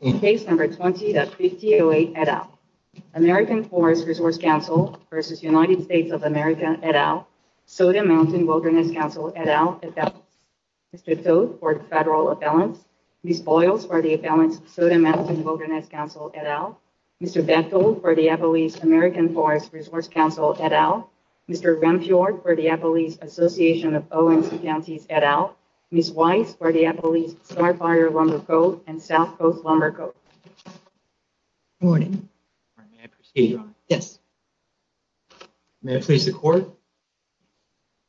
In Case No. 20-5008 et al., American Forest Resource Council v. United States of America et al., Soda Mountain Wilderness Council et al., Mr. Toedt for the federal appellants, Ms. Boyles for the appellants of Soda Mountain Wilderness Council et al., Mr. Bethel for the Appalachian American Forest Resource Council et al., Mr. Renfjord for the Appalachian Association of ONC Counties et al., Ms. Weiss for the Appalachian Starfire Lumber Code and South Coast Lumber Code.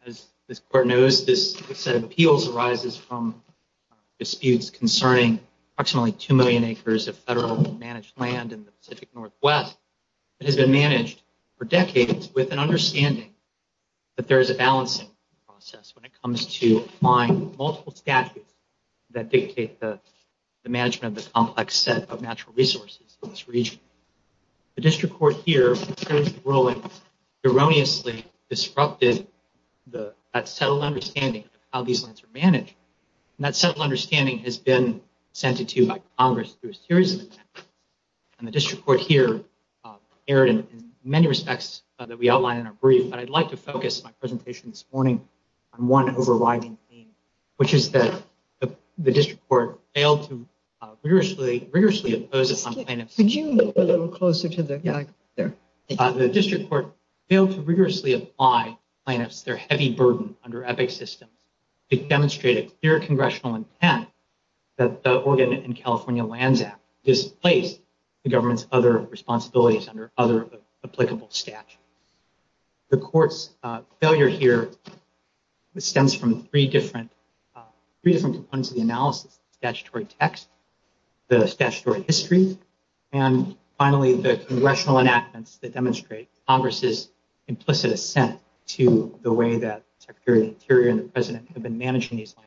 As this court knows, this set of appeals arises from disputes concerning approximately two million acres of federal managed land in the Pacific Northwest that has been managed for decades with an understanding that there is a balancing process when it comes to applying multiple statutes that dictate the management of the complex set of natural resources in this region. The district court here, in terms of the ruling, erroneously disrupted that settled understanding of how these lands are managed. And that settled understanding has been ascended to by Congress through a series of amendments. And the district court here in many respects that we outlined in our brief, but I'd like to focus my presentation this morning on one overriding theme, which is that the district court failed to rigorously, rigorously oppose some plaintiffs. The district court failed to rigorously apply plaintiffs, their heavy burden under EPIC systems to demonstrate a clear congressional intent that the Oregon and California Lands Act displaced the government's other responsibilities under other applicable statutes. The court's failure here stems from three different components of the analysis, the statutory text, the statutory history, and finally, the congressional enactments that demonstrate Congress's implicit assent to the way that the land is managed.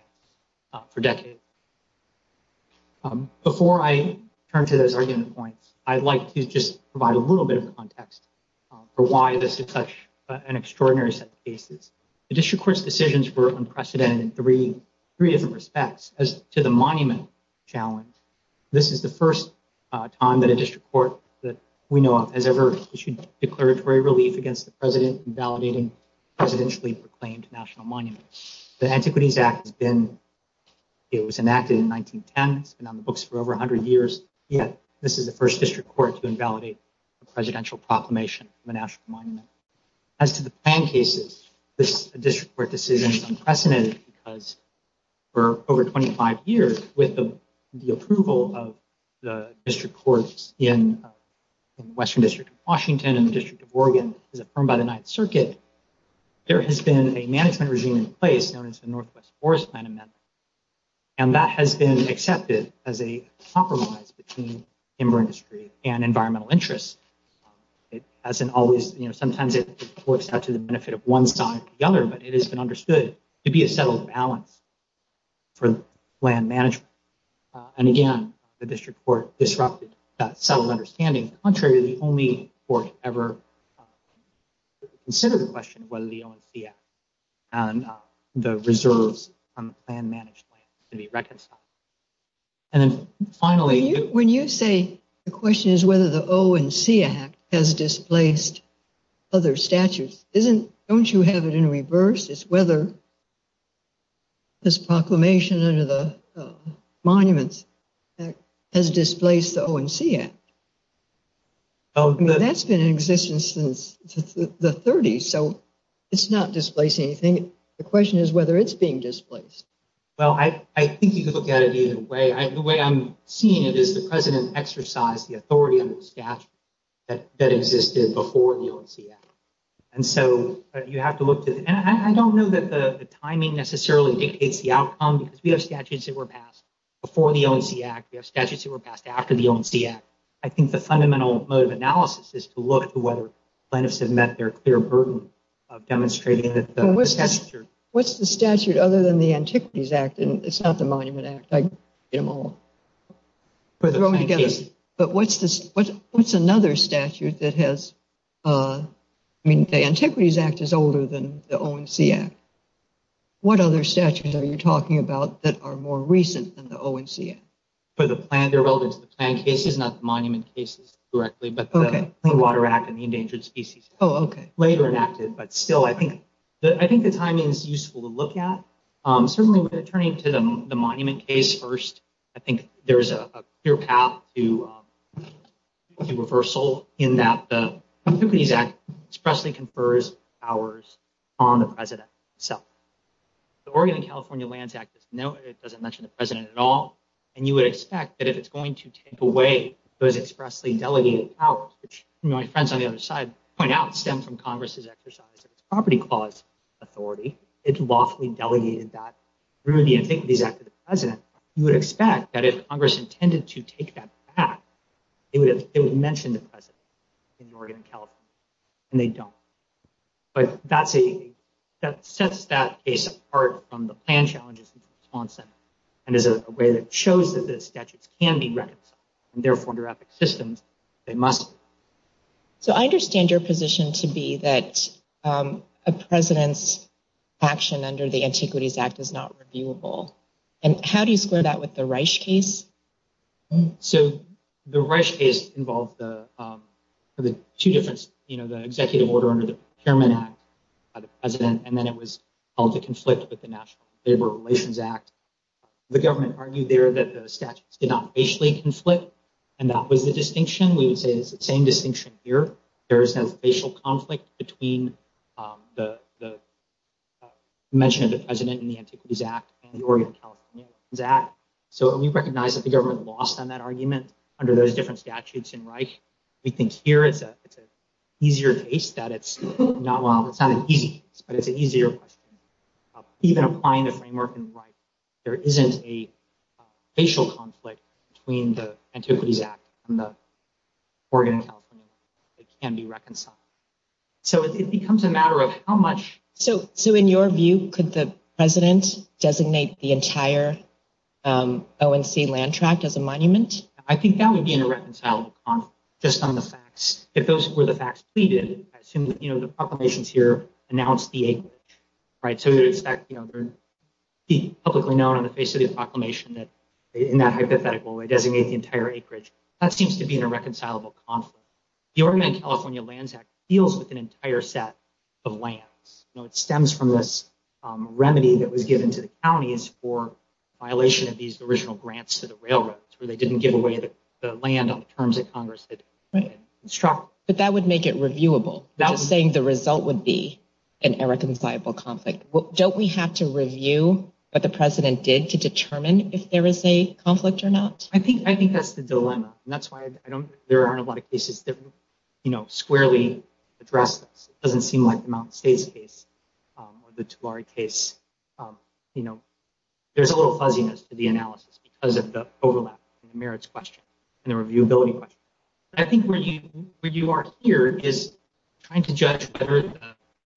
Before I turn to those argument points, I'd like to just provide a little bit of context for why this is such an extraordinary set of cases. The district court's decisions were unprecedented in three different respects. As to the monument challenge, this is the first time that a district court that we know of has ever issued declaratory relief against the president invalidating presidentially proclaimed national monuments. The Antiquities Act has been, it was enacted in 1910, it's been on the books for over 100 years, yet this is the first district court to invalidate a presidential proclamation of a national monument. As to the plan cases, this district court decision is unprecedented because for over 25 years with the approval of the district courts in the Western District of Washington and the District of Oregon as affirmed by the Ninth Circuit, there has been a management regime in place known as the Northwest Forest Plan Amendment. And that has been accepted as a compromise between timber industry and environmental interests. It hasn't always, you know, sometimes it works out to the benefit of one side or the other, but it has been understood to be a settled balance for land management. And again, the district court disrupted that settled understanding. Contrary to the only court ever to consider the question of whether the O&C Act and the reserves on the plan managed land to be reconciled. And then finally, when you say the question is whether the O&C Act has displaced other statutes, isn't, don't you have it in reverse? It's whether this proclamation under the Monuments Act has displaced the O&C Act? I mean, that's been in existence since the 30s, so it's not displacing anything. The question is whether it's being displaced. Well, I think you could look at it either way. The way I'm seeing it is the president exercised the authority on the statute that existed before the O&C Act. And so you have to look to, and I don't know that the timing necessarily dictates the outcome because we have statutes that were passed before the O&C Act. We have statutes that were passed after the O&C Act. I think the fundamental mode of analysis is to look to whether plaintiffs have met their clear burden of demonstrating that the statute. What's the statute other than the Antiquities Act? And it's not the Monument Act. I get them all thrown together. But what's another statute that has, I mean, the Antiquities Act is older than the O&C Act. What other statutes are you talking about that are more recent than the O&C Act? For the plan, they're relevant to the plan cases, not the monument cases directly, but the Clean Water Act and the Endangered Species Act, later enacted. But still, I think the timing is useful to look at. Certainly, turning to the monument case first, I think there's a clear path to reversal in that the Antiquities Act expressly confers powers on the president himself. The Oregon and California Lands Act doesn't mention the president at all. And you would expect that if it's going to take away those expressly delegated powers, which my friends on the other side point out stemmed from Congress's exercise of its property clause authority, it lawfully delegated that through the Antiquities Act to the president. You would expect that if Congress intended to take that back, it would mention the president in Oregon and California, and they don't. But that sets that case apart from the plan challenges, and is a way that shows that the statutes can be reconciled, and therefore, under ethnic systems, they must. So, I understand your position to be that a president's action under the Antiquities Act is not reviewable. And how do you square that with the Reich case? So, the Reich case involved the two different, you know, the executive order under the Labor Relations Act. The government argued there that the statutes did not facially conflict, and that was the distinction. We would say it's the same distinction here. There is no facial conflict between the mention of the president in the Antiquities Act and the Oregon and California Lands Act. So, we recognize that the government lost on that argument under those different statutes in Reich. We think here it's an easier case that it's not, it's not an easy case, but it's an easier question. Even applying the framework in Reich, there isn't a facial conflict between the Antiquities Act and the Oregon and California Lands Act that can be reconciled. So, it becomes a matter of how much. So, in your view, could the president designate the entire ONC land tract as a monument? I think that would be in a reconcilable conflict, just on the facts. If those were the facts I assume, you know, the proclamations here announced the acreage, right? So, you'd expect, you know, they're publicly known on the face of the proclamation that in that hypothetical way, designate the entire acreage. That seems to be in a reconcilable conflict. The Oregon and California Lands Act deals with an entire set of lands. You know, it stems from this remedy that was given to the counties for violation of these original grants to the railroads, where they didn't give away the land on the terms that Congress had instructed. But that would make it reviewable, just saying the result would be an irreconcilable conflict. Don't we have to review what the president did to determine if there is a conflict or not? I think that's the dilemma. And that's why there aren't a lot of cases that, you know, squarely address this. It doesn't seem like the Mount Stays case or the Tulare case, you know, there's a little fuzziness to the analysis because of the overlap in the merits question and the reviewability question. I think where you are here is trying to judge whether the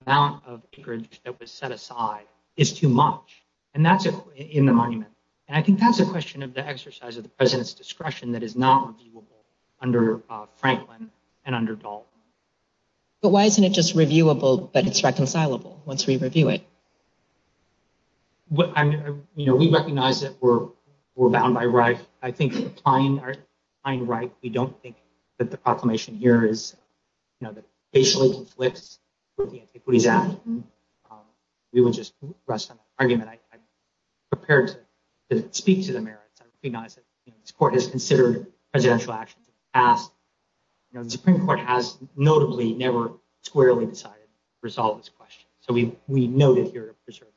amount of acreage that was set aside is too much. And that's in the monument. And I think that's a question of the exercise of the president's discretion that is not reviewable under Franklin and under Dalton. But why isn't it just reviewable, but it's reconcilable once we review it? I mean, you know, we recognize that we're bound by right. I think applying our right, we don't think that the proclamation here is, you know, that basically conflicts with the Antiquities Act. We would just rest on that argument. I'm prepared to speak to the merits. I recognize that this court has considered presidential actions in the past. You know, the Supreme Court has notably never squarely decided to resolve this question. So we know that you're preserving.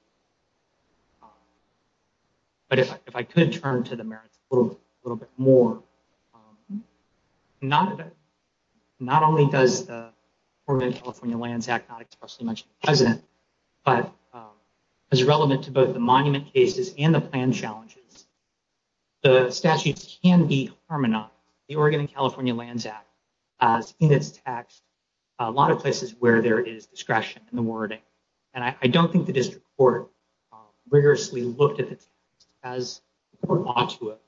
But if I could turn to the merits a little bit more. Not only does the Oregon-California Lands Act not expressly mention the president, but as relevant to both the monument cases and the plan challenges, the statutes can be harmonized. The Oregon-California Lands Act has in its text a lot of places where there is discretion in the wording. And I don't think the district court rigorously looked at the text as the court ought to have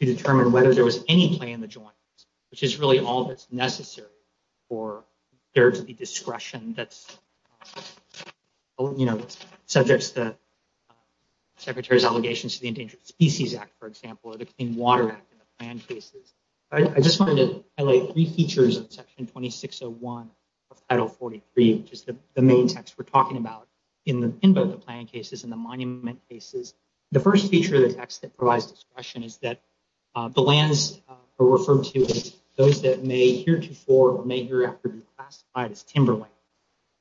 to determine whether there was any play in the joint, which is really all that's necessary for there to be discretion that's, you know, subjects the secretary's allegations to the Endangered Species Act, for example, or the Clean Water Act in the plan cases. I just wanted to highlight three features of Section 2601 of Title 43, which is the main text we're talking about in both the plan cases and the monument cases. The first feature of the text that provides discretion is that the lands are referred to as those that may heretofore or may hereafter be classified as timberland.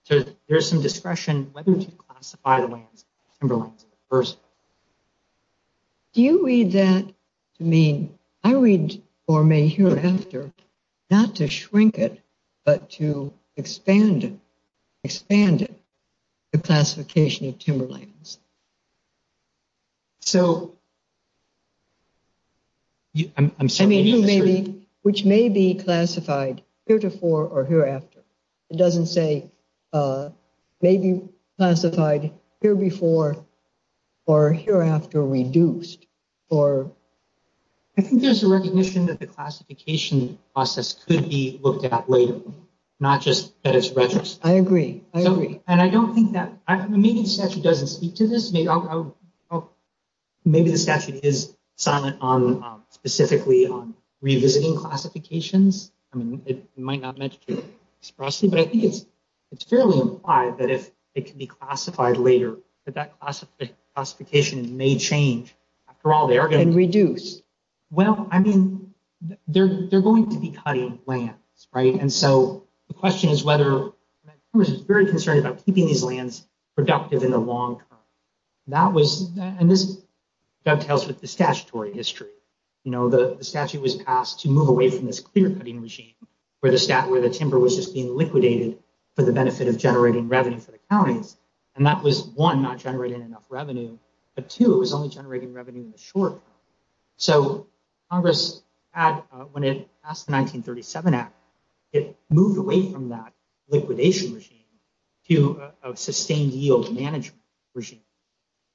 So there's some discretion whether to classify the lands as timberlands. Do you read that to mean, I read, or may hereafter, not to shrink it, but to expand it, expand it, the classification of timberlands? So I mean, which may be classified heretofore or hereafter. It doesn't say maybe classified here before or hereafter reduced. I think there's a recognition that the classification process could be looked at later, not just at its retrospective. I agree. I agree. And I don't think that, maybe the statute doesn't speak to this. Maybe the statute is silent on specifically on this. But I think it's fairly implied that if it can be classified later, that that classification may change. After all, they are going to reduce. Well, I mean, they're going to be cutting lands, right? And so the question is whether, I was very concerned about keeping these lands productive in the long term. And this dovetails with the statutory history. The statute was just being liquidated for the benefit of generating revenue for the counties. And that was one, not generating enough revenue, but two, it was only generating revenue in the short term. So Congress had, when it passed the 1937 Act, it moved away from that liquidation regime to a sustained yield management regime.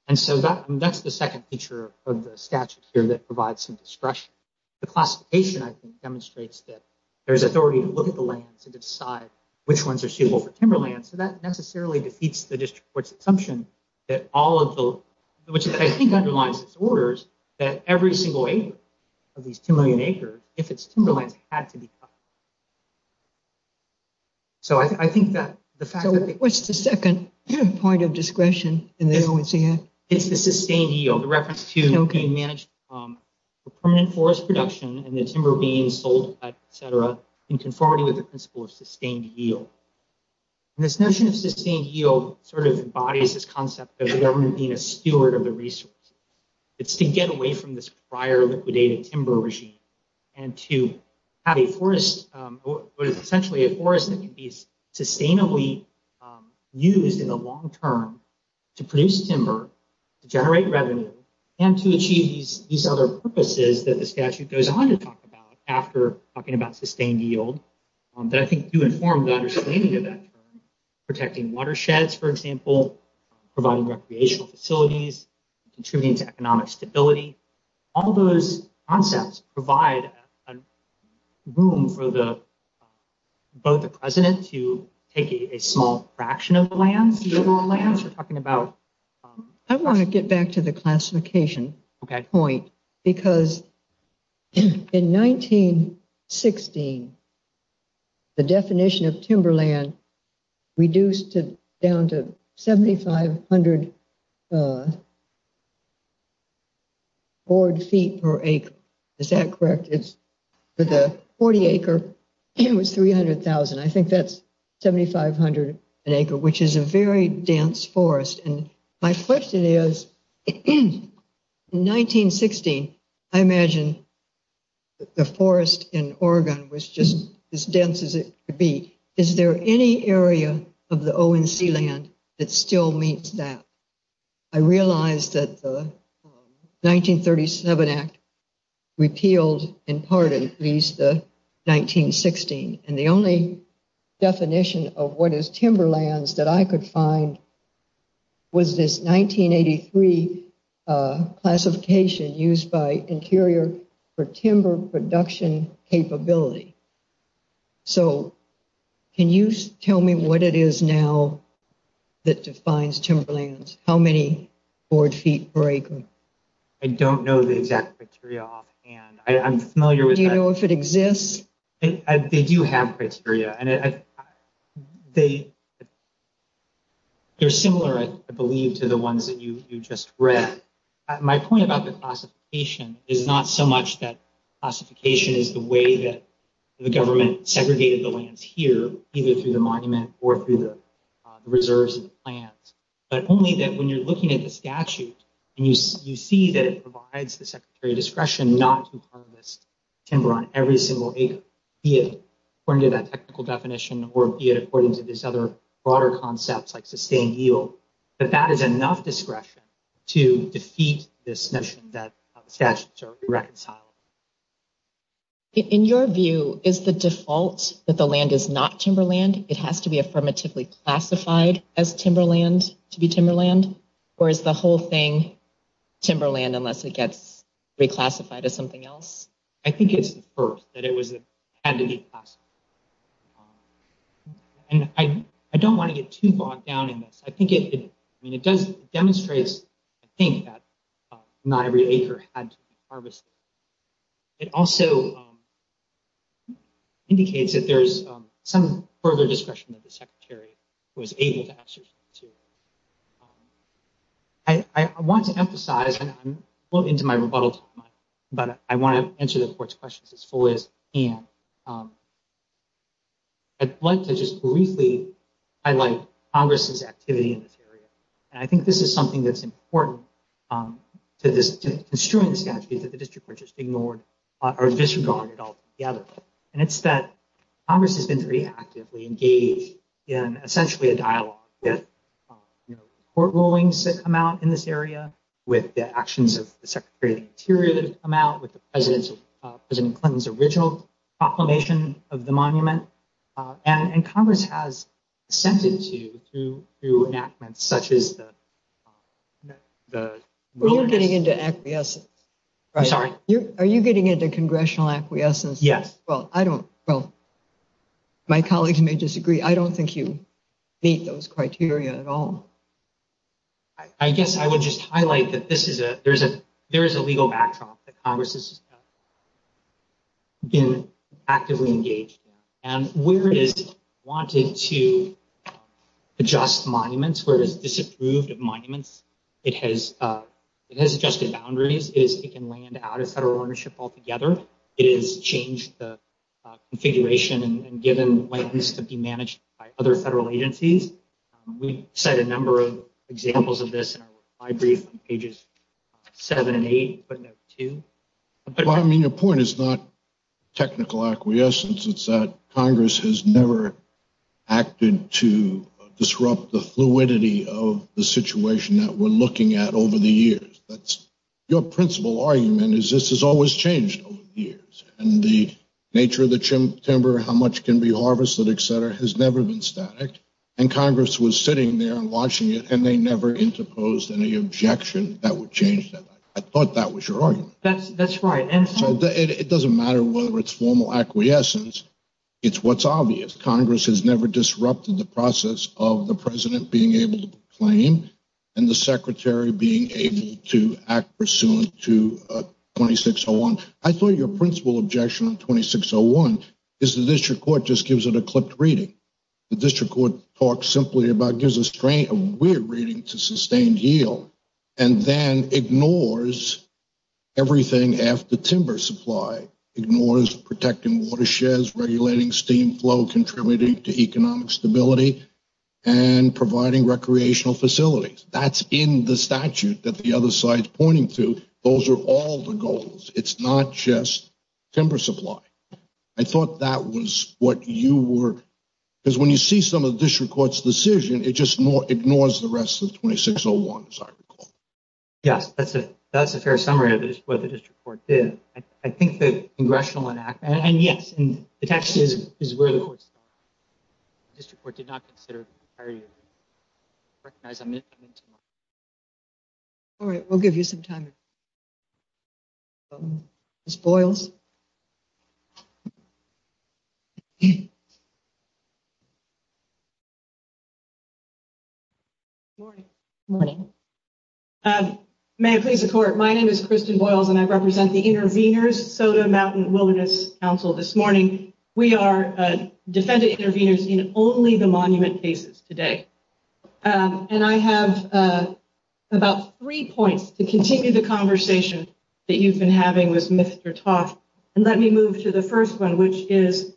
And so that's the second feature of the statute here that provides some discretion. The classification, I think, demonstrates that there's authority to look at the lands and decide which ones are suitable for timberlands. So that necessarily defeats the district court's assumption that all of the, which I think underlies its orders, that every single acre of these 2 million acres, if it's timberlands, had to be cut. So I think that the fact that- So what's the second point of discretion in the ONCF? It's the sustained yield, the reference to being managed for permanent forest production and the conformity with the principle of sustained yield. And this notion of sustained yield sort of embodies this concept of the government being a steward of the resource. It's to get away from this prior liquidated timber regime and to have a forest, essentially a forest that can be sustainably used in the long term to produce timber, to generate revenue, and to achieve these other purposes that the statute goes on to talk about after talking about sustained yield that I think do inform the understanding of that term. Protecting watersheds, for example, providing recreational facilities, contributing to economic stability. All those concepts provide room for both the president to take a small fraction of the lands, the general lands. We're talking about- I want to get back to the classification point because in 1916, the definition of timberland reduced to down to 7,500 board feet per acre. Is that correct? For the 40-acre, it was 300,000. I think that's 7,500 an acre, which is a very dense forest. And my question is, in 1916, I imagine the forest in Oregon was just as dense as it could be. Is there any area of the ONC land that still meets that? I realize that the 1937 Act repealed in part at least the 1916. And the only definition of what is timberlands that I could find was this 1983 classification used by Interior for timber production capability. So, can you tell me what it is now that defines timberlands? How many board feet per acre? I don't know the exact criteria offhand. I'm familiar with- Do you know if it exists? They do have criteria. They're similar, I believe, to the ones that you just read. My point about the classification is not so much that classification is the way that the government segregated the lands here, either through the monument or through the reserves and plans, but only that when you're looking at the statute and you see that it be it according to that technical definition or be it according to these other broader concepts like sustained yield, that that is enough discretion to defeat this notion that statutes are irreconcilable. In your view, is the default that the land is not timberland, it has to be affirmatively classified as timberland to be timberland? Or is the whole thing timberland unless it gets reclassified as something else? I think it's the first, that it had to be classified. I don't want to get too bogged down in this. It demonstrates, I think, that not every acre had to be harvested. It also indicates that there's some further discretion that the Secretary was able to exercise, too. I want to emphasize, and I'm well into my rebuttal time, but I want to answer the Court's questions as fully as I can. I'd like to just briefly highlight Congress's activity in this area. I think this is something that's important to construing the statute that the District Court just ignored or disregarded altogether. It's that Congress has been very actively engaged in, essentially, a dialogue with court rulings that come out in this area, with the actions of the Secretary of the Interior that have come out, with President Clinton's original proclamation of the monument. Congress has assented to through enactments such as the... We're getting into acquiescence. Sorry? Are you getting into congressional acquiescence? Yes. I don't... Well, my colleagues may disagree. I don't think you meet those criteria at all. I guess I would just highlight that there is a legal backdrop that Congress has been actively engaged in. Where it has wanted to adjust monuments, where it has disapproved of monuments, it has adjusted boundaries. It can land out of federal ownership altogether. It has changed the configuration and given land to be managed by other federal agencies. We cite a number of examples of this in our brief on pages seven and eight, but not two. I mean, your point is not technical acquiescence. It's that Congress has never acted to disrupt the fluidity of the situation that we're looking at over the years. That's your principal argument, is this has always changed over the years. The nature of the timber, how much can be harvested, et cetera, has never been static. Congress was sitting there and watching it and they never interposed any objection that would change that. I thought that was your argument. That's right. It doesn't matter whether it's formal acquiescence. It's what's obvious. Congress has never disrupted the process of the president being able to claim and the secretary being able to act pursuant to 2601. I thought your principal objection on 2601 is the district court just gives it a clipped reading. The district court talks simply about, gives a weird reading to sustained yield, and then ignores everything after timber supply, ignores protecting watersheds, regulating steam flow, contributing to economic stability, and providing recreational facilities. That's in the statute that the other side's pointing to. Those are all the goals. It's not just timber supply. I thought that was what you were, because when you see some of the district court's decision, it just ignores the rest of 2601, as I recall. Yes, that's a fair summary of what the district court did. I think the congressional enactment, and yes, and the text is where the court started. The district court did not consider, or recognize. All right, we'll give you some time. Ms. Boyles. Good morning. May it please the court, my name is Kristen Boyles, and I represent the intervenors in only the monument cases today. I have about three points to continue the conversation that you've been having with Mr. Toth. Let me move to the first one, which is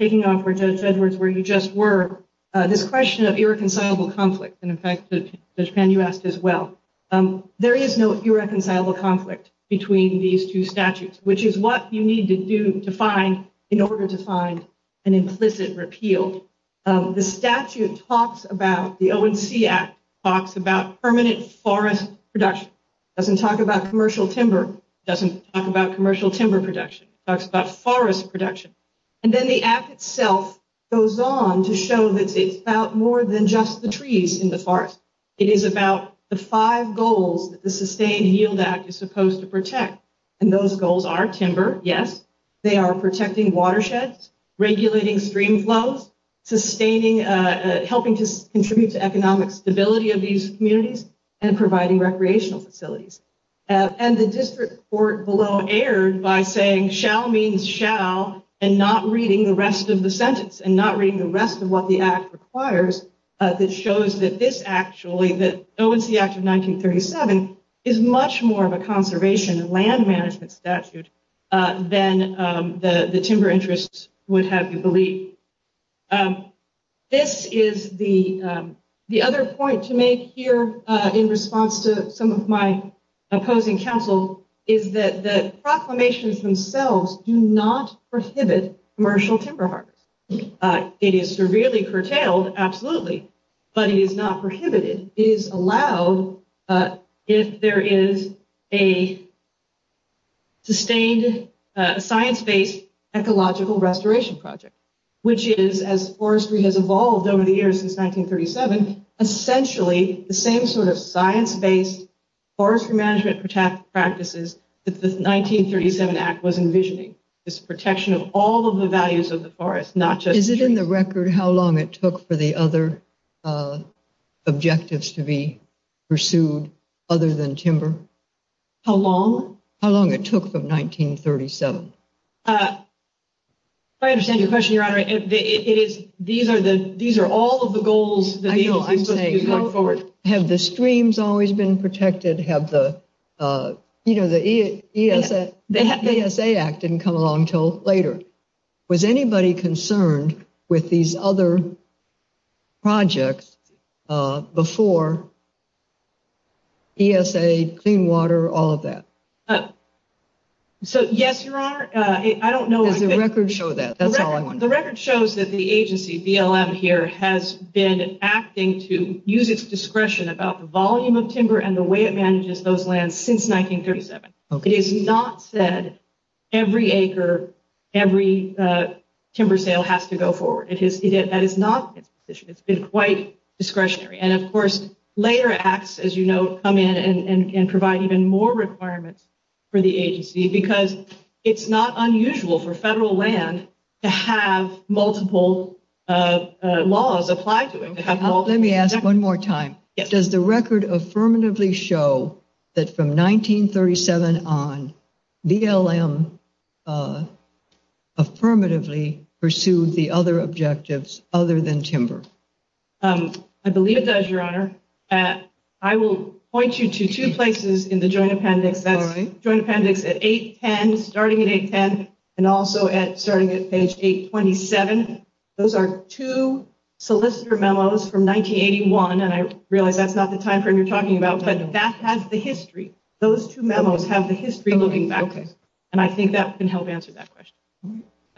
taking off where Judge Edwards, where you just were. This question of irreconcilable conflict, and in fact, Judge Pan, you asked as well. There is no irreconcilable conflict between these two statutes, which is what you need to do to find, in order to find an implicit repeal. The statute talks about, the ONC Act talks about permanent forest production. It doesn't talk about commercial timber. It doesn't talk about commercial timber production. It talks about forest production. Then the Act itself goes on to show that it's about more than just the trees in the And those goals are timber, yes. They are protecting watersheds, regulating stream flows, helping to contribute to economic stability of these communities, and providing recreational facilities. The district court below erred by saying, shall means shall, and not reading the rest of the sentence, and not reading the rest of what the Act requires, that shows that this actually, the ONC Act of 1937, is much more of a conservation and land management statute than the timber interests would have you believe. This is the other point to make here, in response to some of my opposing counsel, is that the proclamations themselves do not is allowed if there is a sustained science-based ecological restoration project, which is, as forestry has evolved over the years since 1937, essentially the same sort of science-based forestry management practices that the 1937 Act was envisioning, this protection of all of the values of the forest, not just trees. Is it in the record how long it took for the other objectives to be pursued other than timber? How long? How long it took from 1937. I understand your question, Your Honor. These are all of the goals. Have the streams always been protected? The ESA Act didn't come along until later. Was anybody concerned with these other projects before ESA, clean water, all of that? So, yes, Your Honor. I don't know. Does the record show that? That's all I want to know. The record shows that the agency, BLM here, has been acting to use its discretion about the volume of timber and the way it manages those lands since 1937. It is not said every acre, every timber sale has to go forward. That is not its position. It's been quite discretionary. And, of course, later acts, as you know, come in and provide even more requirements for the agency because it's not unusual for federal land to have multiple laws applied to it. Let me ask one more time. Does the record affirmatively show that from 1937 on, BLM affirmatively pursued the other objectives other than timber? I believe it does, Your Honor. I will point you to two places in the joint appendix. That's joint appendix at 810, starting at 810, and also starting at page 827. Those are two solicitor memos from 1981, and I realize that's not the timeframe you're talking about, but that has the history. Those two memos have the history looking back. And I think that can help answer that question.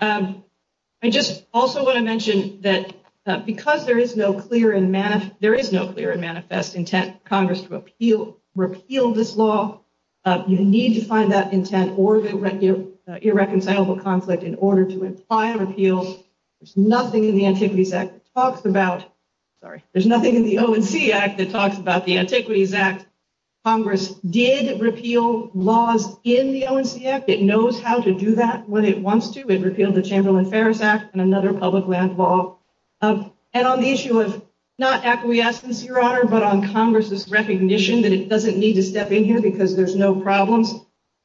I just also want to mention that because there is no clear and manifest intent Congress to repeal this law, you need to find that intent or irreconcilable conflict in order to apply a repeal. There's nothing in the Antiquities Act that talks about, sorry, there's nothing in the ONC Act that talks about the Antiquities Act. Congress did repeal laws in the ONC Act. It knows how to do that when it wants to. It repealed the Chamberlain Fares Act and another public land law. And on the issue of not acquiescence, Your Honor, but on Congress's recognition that it doesn't need to step in here because there's no problems,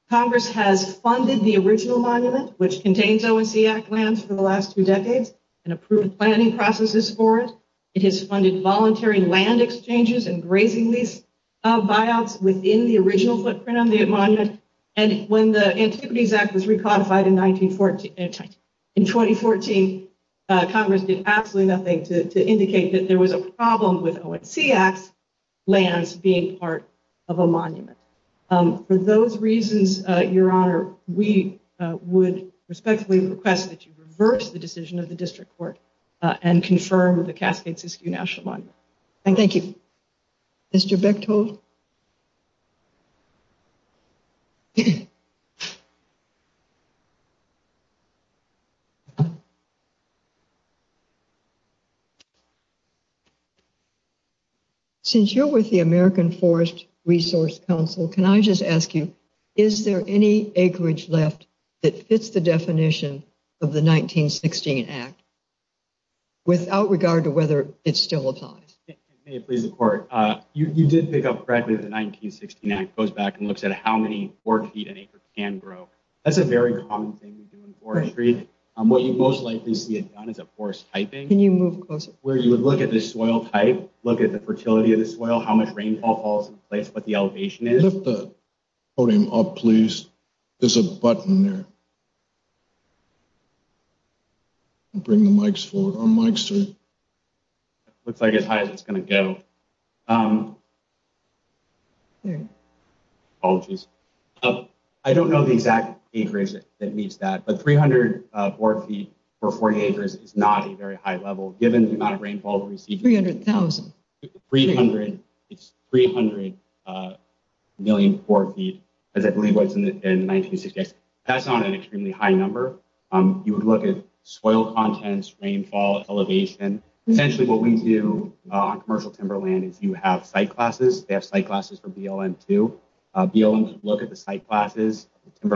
Congress has funded the original monument, which contains ONC Act lands for the last two decades, and approved planning processes for it. It has funded voluntary land exchanges and grazing lease buyouts within the original footprint on the monument. And when the Antiquities Act was recodified in 2014, Congress did absolutely nothing to indicate that there was a problem with ONC Act lands being part of a would respectfully request that you reverse the decision of the district court and confirm the Cascade-Siskiyou National Monument. Thank you. Mr. Bechtold? Since you're with the American Forest Resource Council, can I just ask you, is there any acreage left that fits the definition of the 1916 Act, without regard to whether it still applies? May it please the court, you did pick up correctly that the 1916 Act goes back and looks at how many four feet an acre can grow. That's a very common thing we do in forestry. What you most likely see it done is a forest typing, where you would look at the soil type, look at the fertility of the soil, how much rainfall falls in place, what the Please. There's a button there. Bring the mics forward. Looks like as high as it's going to go. I don't know the exact acreage that meets that, but 304 feet for 40 acres is not a very high given the amount of rainfall. 300,000. It's 300 million four feet. That's not an extremely high number. You would look at soil contents, rainfall, elevation. Essentially what we do on commercial timberland is you have site classes. They have site classes for BLM too. BLM would look at the site class out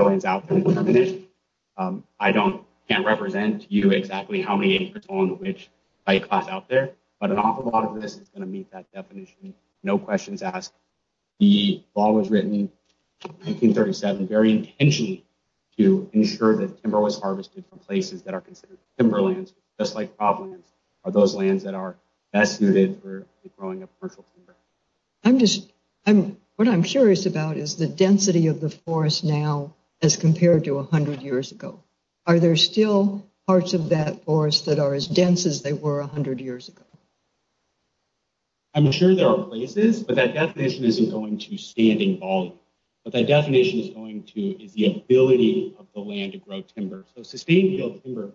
there, but an awful lot of this is going to meet that definition, no questions asked. The law was written in 1937 very intentionally to ensure that timber was harvested from places that are considered timberlands, just like problems are those lands that are best suited for growing up commercial timber. What I'm curious about is the density of the forest now as compared to 100 years ago. Are there still parts of that forest that are as dense as they were 100 years ago? I'm sure there are places, but that definition isn't going to standing volume. What that definition is going to is the ability of the land to grow timber. Sustainable timber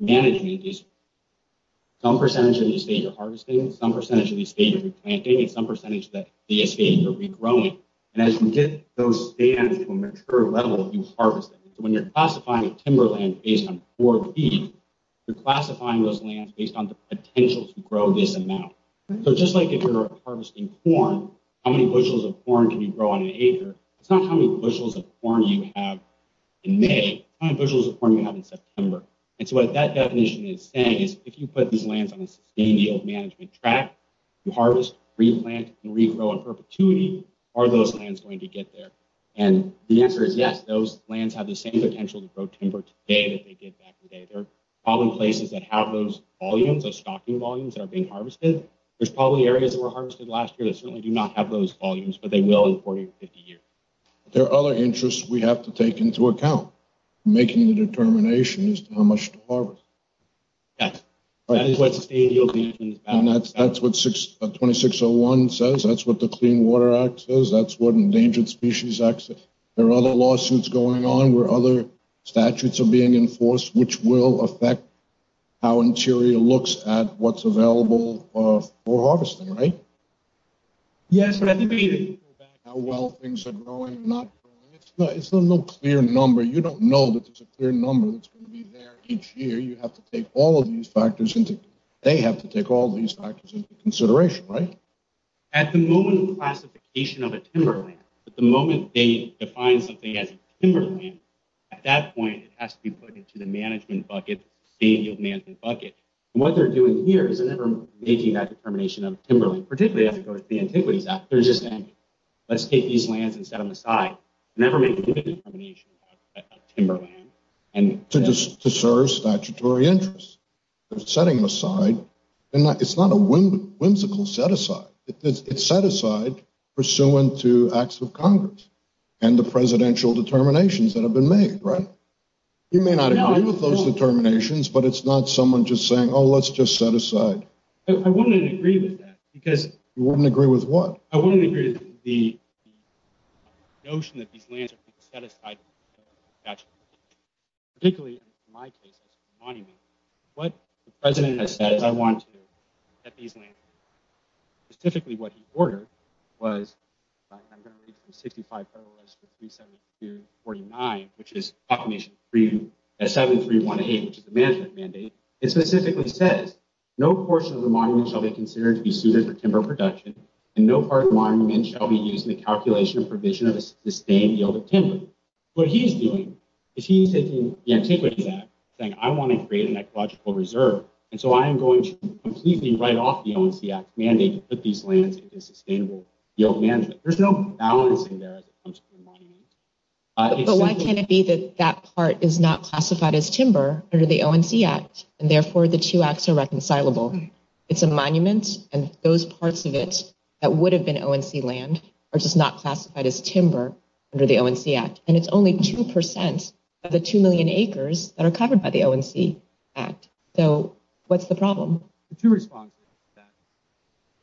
management is some percentage of the estate you're harvesting, some percentage of the estate you're replanting, and some percentage of the estate you're regrowing. As you get those stands to a mature level, you harvest them. When you're classifying timberland based on four feet, you're classifying those lands based on the potential to grow this amount. So just like if you're harvesting corn, how many bushels of corn can you grow on an acre? It's not how many bushels of corn you have in May, how many bushels of corn you have in September. So what that definition is saying is if you put these lands on a sustainable management track, you harvest, replant, and regrow in perpetuity, are those lands going to get there? The answer is yes. Those lands have the same potential to grow timber today that they did back in the day. There are probably places that have those volumes, those stocking volumes that are being harvested. There's probably areas that were harvested last year that certainly do not have those volumes, but they will in 40 or 50 years. There are other interests we have to take into account making the determination as to how much to harvest. That is what sustainability is about. That's what 2601 says. That's what the Clean Water Act says. That's what Endangered Species Act says. There are other lawsuits going on where other statutes are being enforced which will affect how Interior looks at what's available for harvesting, right? Yes, but I think we need to go back to how well things are growing and not growing. It's not a clear number. You don't know that there's a clear number that's going to be there each year. You have to take all of these factors into consideration, right? At the moment of classification of a timberland, at the moment they define something as a timberland, at that point it has to be put into the management bucket, the state yield management bucket. What they're doing here is they're never making that determination of a timberland, particularly as it goes to the Antiquities Act. They're just saying, let's take these lands and set them aside. Never make a determination about a timberland. To serve statutory interests. They're setting them aside. It's not a whimsical set aside. It's set aside pursuant to acts of Congress and the presidential determinations that have been made, right? You may not agree with those determinations, but it's not someone just saying, oh, let's just set aside. I wouldn't agree with that. You wouldn't agree with what? I wouldn't agree with the notion that particularly in my case, as a monument, what the president has said is I want to get these lands. Specifically what he ordered was, I'm going to read from 65.0 as to 372.49, which is 731.8, which is the management mandate. It specifically says, no portion of the monument shall be considered to be suited for timber production, and no part of the monument shall be used in the calculation and provision of a sustained yield of timber. What he's doing is he's taking the antiquities act, saying I want to create an ecological reserve, and so I am going to completely write off the ONC Act mandate to put these lands into sustainable yield management. There's no balance in there as it comes to the monument. But why can't it be that that part is not classified as timber under the ONC Act, and therefore the two acts are reconcilable? It's a monument, and those parts of it that have been ONC land are just not classified as timber under the ONC Act, and it's only two percent of the two million acres that are covered by the ONC Act. So what's the problem? The two responses to that.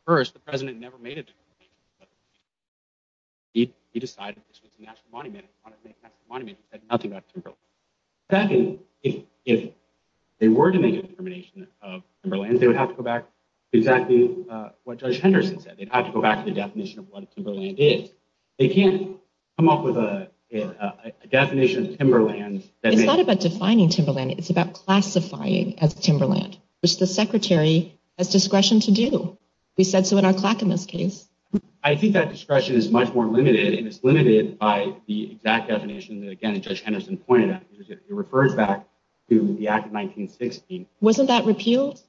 First, the president never made a determination. He decided this was a national monument. He wanted to make a national monument. He said nothing about timberland. Second, if they were to make a determination of timberland, they would have to go back to exactly what Judge Henderson said. They'd have to go back to the definition of what timberland is. They can't come up with a definition of timberland. It's not about defining timberland. It's about classifying as timberland, which the secretary has discretion to do. We said so in our Clackamas case. I think that discretion is much more limited, and it's limited by the exact definition that, again, Judge Henderson pointed out. He refers back to the Act of 1916. Wasn't that repealed?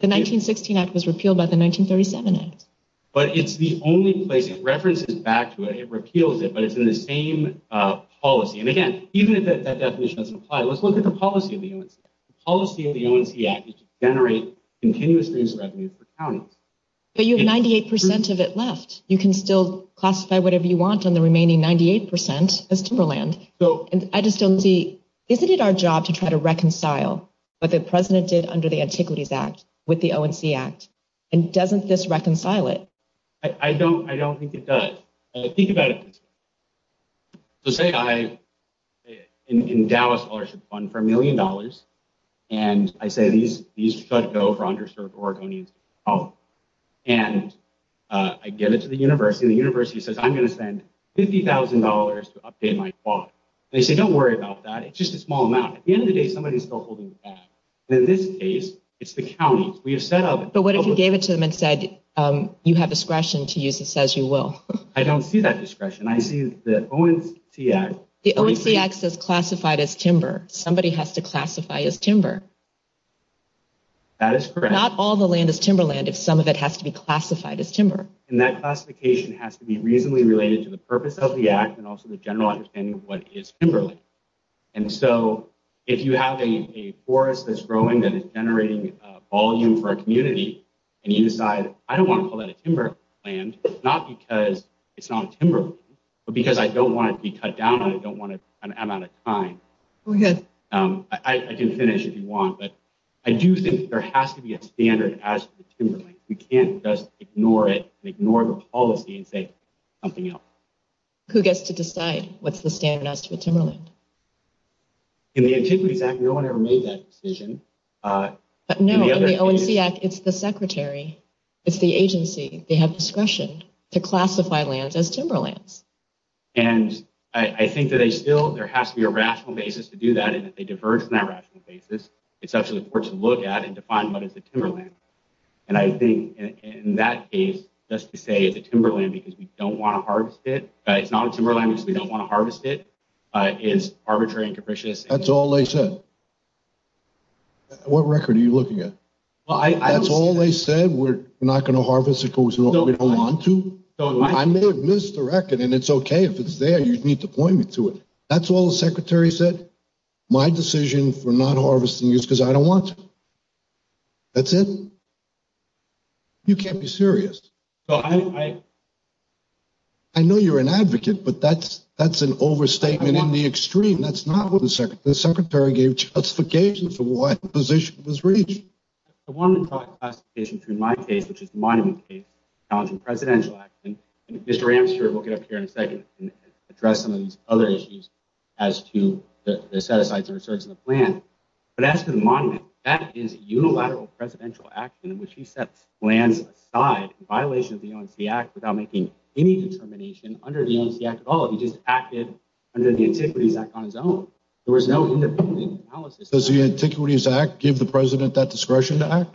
The 1916 Act was repealed by the 1937 Act. But it's the only place. It references back to it. It repeals it, but it's in the same policy. And again, even if that definition doesn't apply, let's look at the policy of the ONC Act. The policy of the ONC Act is to generate continuous revenues for counties. But you have 98 percent of it left. You can still classify whatever you want on the remaining 98 percent as timberland. And I just don't see, isn't it our job to try to reconcile what the president did under the Antiquities Act with the ONC Act? And doesn't this reconcile it? I don't think it does. Think about it this way. So say I endow a scholarship fund for a million dollars, and I say these should go for underserved Oregonians. And I give it to the university, and the university says, I'm going to spend $50,000 to update my plot. They say, don't worry about that. It's just a small amount. At the end of the day, somebody's still holding the bag. In this case, it's the counties. We have set up... But what if you gave it to them and said, you have discretion to use this as you will? I don't see that discretion. I see the ONC Act... The ONC Act says classified as timber. Somebody has to classify as timber. That is correct. Not all the land is timberland if some of it has to be classified as timber. And that classification has to be reasonably related to the purpose of the Act and also general understanding of what is timberland. And so if you have a forest that's growing that is generating volume for a community, and you decide, I don't want to call that a timberland, not because it's not a timberland, but because I don't want it to be cut down, and I don't want an amount of time. I can finish if you want, but I do think there has to be a standard as to the timberland. You can't just ignore it and ignore the policy and say something else. Who gets to decide what's the standard as to a timberland? In the Antiquities Act, no one ever made that decision. But no, in the ONC Act, it's the secretary. It's the agency. They have discretion to classify lands as timberlands. And I think that there still has to be a rational basis to do that, and if they diverge on that rational basis, it's actually important to look at and define what is a timberland. And I think in that case, just to say it's a timberland because we don't want to harvest it, it's not a timberland because we don't want to harvest it, is arbitrary and capricious. That's all they said. What record are you looking at? That's all they said? We're not going to harvest it because we don't want to? I may have missed the record, and it's okay if it's there. You need to point me to it. That's all the secretary said? My decision for not harvesting is because I don't want to. That's it? You can't be serious. I know you're an advocate, but that's an overstatement in the extreme. That's not what the secretary said. The secretary gave justification for why the position was reached. I wanted to talk classification through my case, which is the Monument case, the Challenging Presidential Act, and Mr. Ames here, we'll get up here in a second and address some of these other issues as to the set-asides and the resurgence of the plan. But as to the Monument, that is unilateral presidential action in which he sets lands aside in violation of the ONC Act without making any determination under the ONC Act at all. He just acted under the Antiquities Act on his own. There was no independent analysis. Does the Antiquities Act give the president that discretion to act?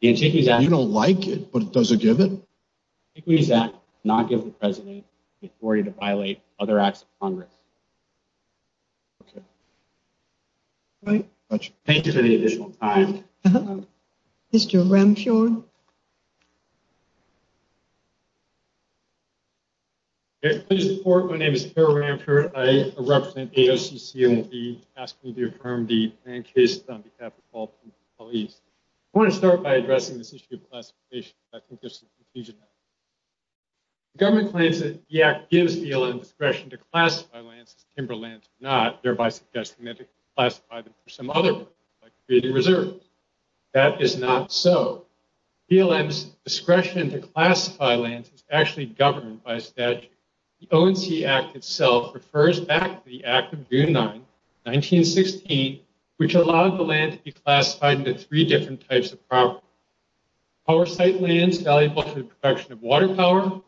The Antiquities Act. You don't like it, but it doesn't give it? The Antiquities Act does not give the president the authority to violate other acts of Congress. Okay. Thank you for the additional time. Uh-huh. Mr. Ramphur? Okay. Please report. My name is Harold Ramphur. I represent AOC, CND, asking me to affirm the plan case on behalf of all police. I want to start by addressing this issue of classification. I think there's some confusion. The government claims that the act gives ELN discretion to classify lands as timberlands or not, thereby suggesting that it can classify them for some other purpose, like creating reserves. That is not so. ELN's discretion to classify lands is actually governed by statute. The ONC Act itself refers back to the Act of June 9, 1916, which allowed the land to be classified into three different types of properties. Power site lands valuable to the production of water power.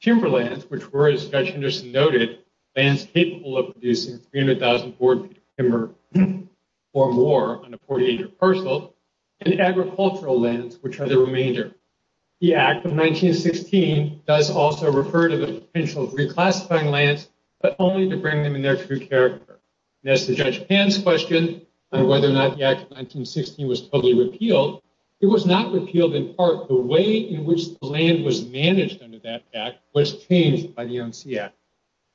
Timberlands, which were, as Judge Henderson noted, lands capable of producing 300,000 square feet of timber or more on a 48-acre parcel, and agricultural lands, which are the remainder. The Act of 1916 does also refer to the potential of reclassifying lands, but only to bring them in their true character. And as to Judge Pan's question on whether or not the Act of 1916 was totally repealed, it was not repealed in part. The way in which the land was managed under that Act was changed by the ONC Act.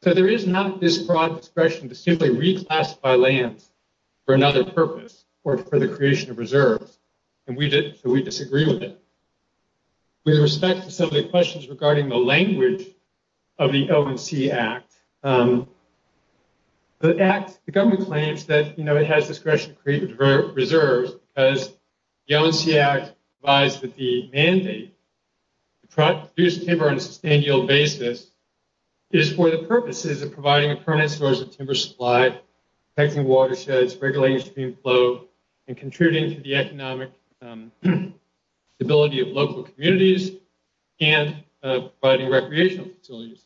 So there is not this broad discretion to simply reclassify lands for another purpose or for the creation of reserves. And we disagree with it. With respect to some of the questions regarding the language of the ONC Act, the government claims that it has discretion to create reserves because the ONC Act provides that the mandate to produce timber on a sustained yield basis is for the purposes of providing a permanent source of timber supply, protecting watersheds, regulating stream flow, and contributing to the economic stability of local communities, and providing recreational facilities.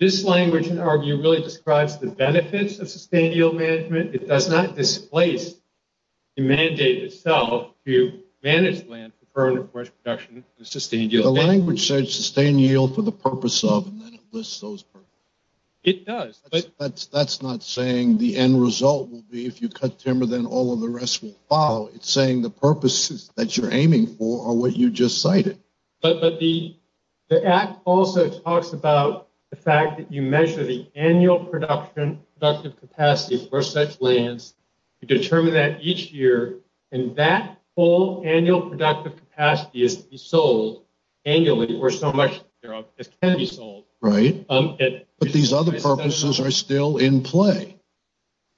This language, in our view, really describes the benefits of sustained yield management. It does not displace the mandate itself to manage land for permanent forest production. The language says sustained yield for the purpose of, and then it lists those purposes. It does. That's not saying the end result will be if you cut timber, then all of the rest will follow. It's saying the purposes that you're aiming for are what you just cited. But the Act also talks about the fact that you measure the annual production, productive capacity for such lands. You determine that each year, and that full annual productive capacity is to be sold annually for so much as can be sold. Right. But these other purposes are still in play.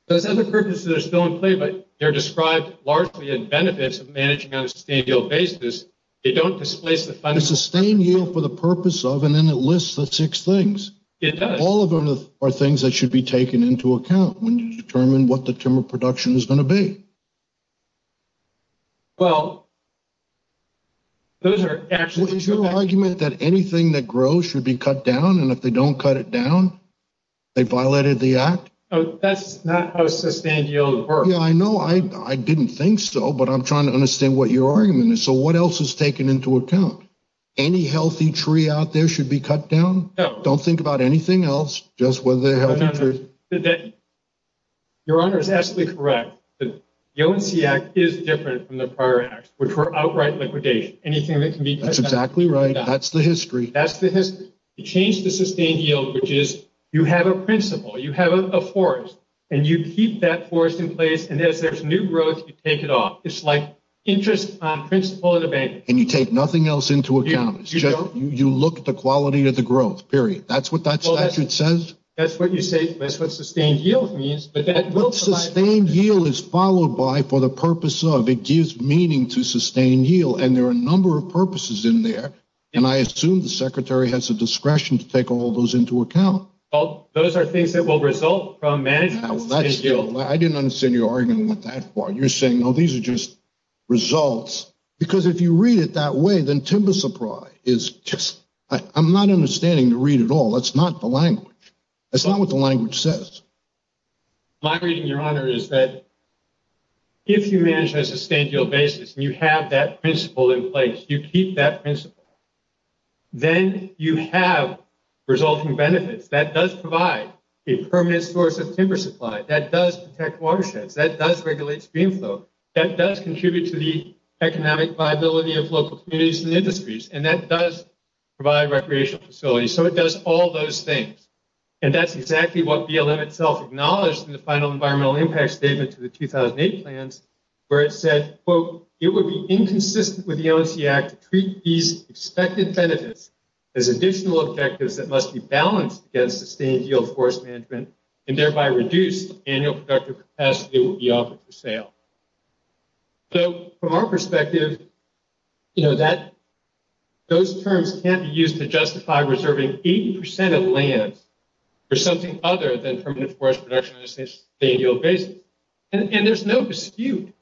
Those other purposes are still in play, but they're described largely in benefits of managing on a sustained yield basis. They don't displace the funding. Sustained yield for the purpose of, and then it lists the six things. It does. All of them are things that should be taken into account when you determine what the timber production is going to be. Well, those are actually... Is your argument that anything that grows should be cut down? And if they don't cut it down, they violated the Act? That's not how sustained yield works. Yeah, I know. I didn't think so, but I'm trying to understand what your argument is. So what else is taken into account? Any healthy tree out there should be cut down? No. Don't think about anything else, just whether they're healthy trees. Your Honor is absolutely correct. The ONC Act is different from the prior Act, which were outright liquidation. Anything that can be cut down. That's exactly right. That's the history. That's the history. You change the sustained yield, which is you have a principle, you have a forest, and you keep that forest in place. And as there's new growth, you take it off. It's like interest principle in a bank. And you take nothing else into account. You look at the quality of the growth, period. That's what that statute says. That's what you say. That's what sustained yield means. But what sustained yield is followed by for the purpose of? It gives meaning to sustained yield. And there are a number of purposes in there. And I assume the Secretary has the discretion to take all those into account. Those are things that will result from managing sustained yield. I didn't understand your argument that far. You're saying, no, these are just results. Because if you read it that way, then timber supply is just, I'm not understanding the statute at all. That's not the language. That's not what the language says. My reading, Your Honor, is that if you manage a sustained yield basis, and you have that principle in place, you keep that principle, then you have resulting benefits. That does provide a permanent source of timber supply. That does protect watersheds. That does regulate stream flow. That does contribute to the economic viability of local communities and industries. And that does provide recreational facilities. So it does all those things. And that's exactly what BLM itself acknowledged in the final environmental impact statement to the 2008 plans, where it said, quote, it would be inconsistent with the ONC Act to treat these expected benefits as additional objectives that must be balanced against sustained yield forest management and thereby reduce the annual productive capacity that will be offered for sale. So from our perspective, you know, that those terms can't be used to justify reserving 80 percent of land for something other than permanent forest production on a sustained yield basis. And there's no dispute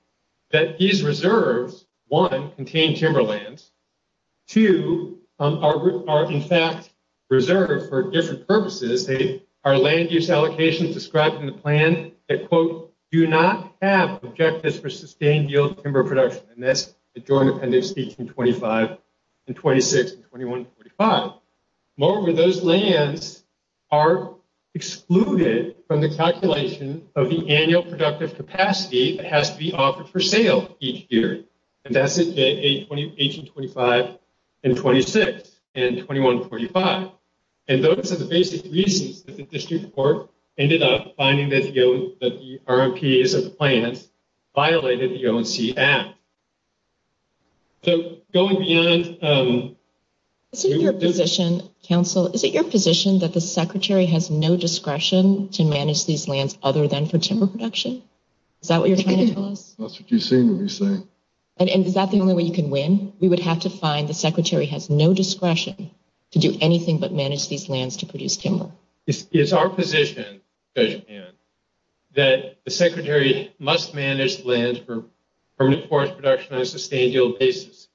that these reserves, one, contain timberlands, two, are in fact reserved for different purposes. Our land use allocations described in the plan that, quote, do not have objectives for sustained yield timber production. And that's the Joint Appendix 1825 and 26 and 2145. Moreover, those lands are excluded from the calculation of the annual productive capacity that has to be offered for sale each year. And that's 1825 and 26 and 2145. And those are the basic reasons that the district court ended up finding that the RMPs of the plans violated the ONC Act. So going beyond... Is it your position, counsel, is it your position that the secretary has no discretion to manage these lands other than for timber production? Is that what you're trying to tell us? That's what you seem to be saying. And is that the only way you can win? We would have to find the secretary has no discretion to do anything but manage these lands to produce timber. It's our position, Judge Pan, that the secretary must manage land for permanent forest production on a sustained yield basis.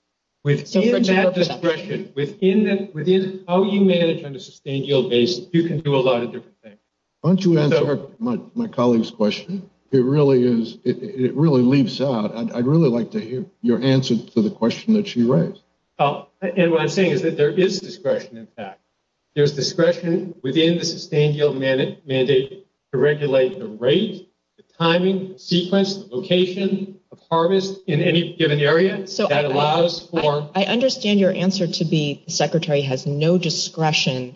Within that discretion, within how you manage on a sustained yield basis, you can do a lot of different things. Why don't you answer my colleague's question? It really is, it really leaps out. I'd really like to hear your answer to the question that she raised. And what I'm saying is that there is discretion, in fact. There's discretion within the sustained yield mandate to regulate the rate, the timing, sequence, location of harvest in any given area. So that allows for... I understand your answer to be the secretary has no discretion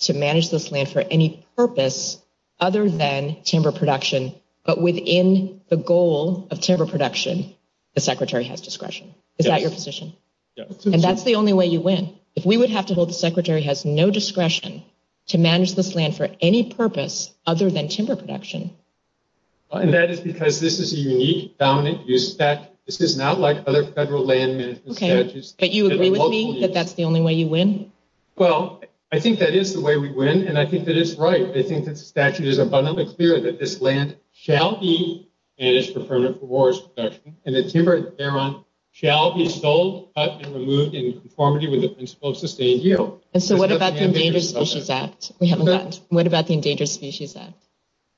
to manage this land for any purpose other than timber production. But within the goal of timber production, the secretary has discretion. Is that your position? And that's the only way you win. If we would have to hold the secretary has no discretion to manage this land for any purpose other than timber production. And that is because this is a unique, dominant use of that. This is not like other federal land management strategies. But you agree with me that that's the only way you win? Well, I think that is the way we win. And I think that is right. I think that the statute is abundantly clear that this land shall be managed for permanent forest production, and the timber thereon shall be sold, cut, and removed in conformity with the principle of sustained yield. And so what about the Endangered Species Act? We haven't gotten... What about the Endangered Species Act?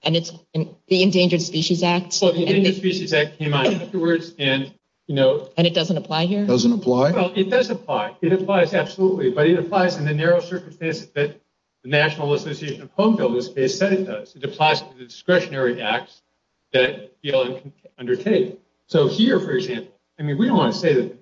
And it's the Endangered Species Act. So the Endangered Species Act came out afterwards and, you know... And it doesn't apply here? Doesn't apply? Well, it does apply. It applies, absolutely. But it applies in the narrow circumstances that the National Association of Home Builders said it does. It applies to the discretionary acts that BLM can undertake. So here, for example, I mean, we don't want to say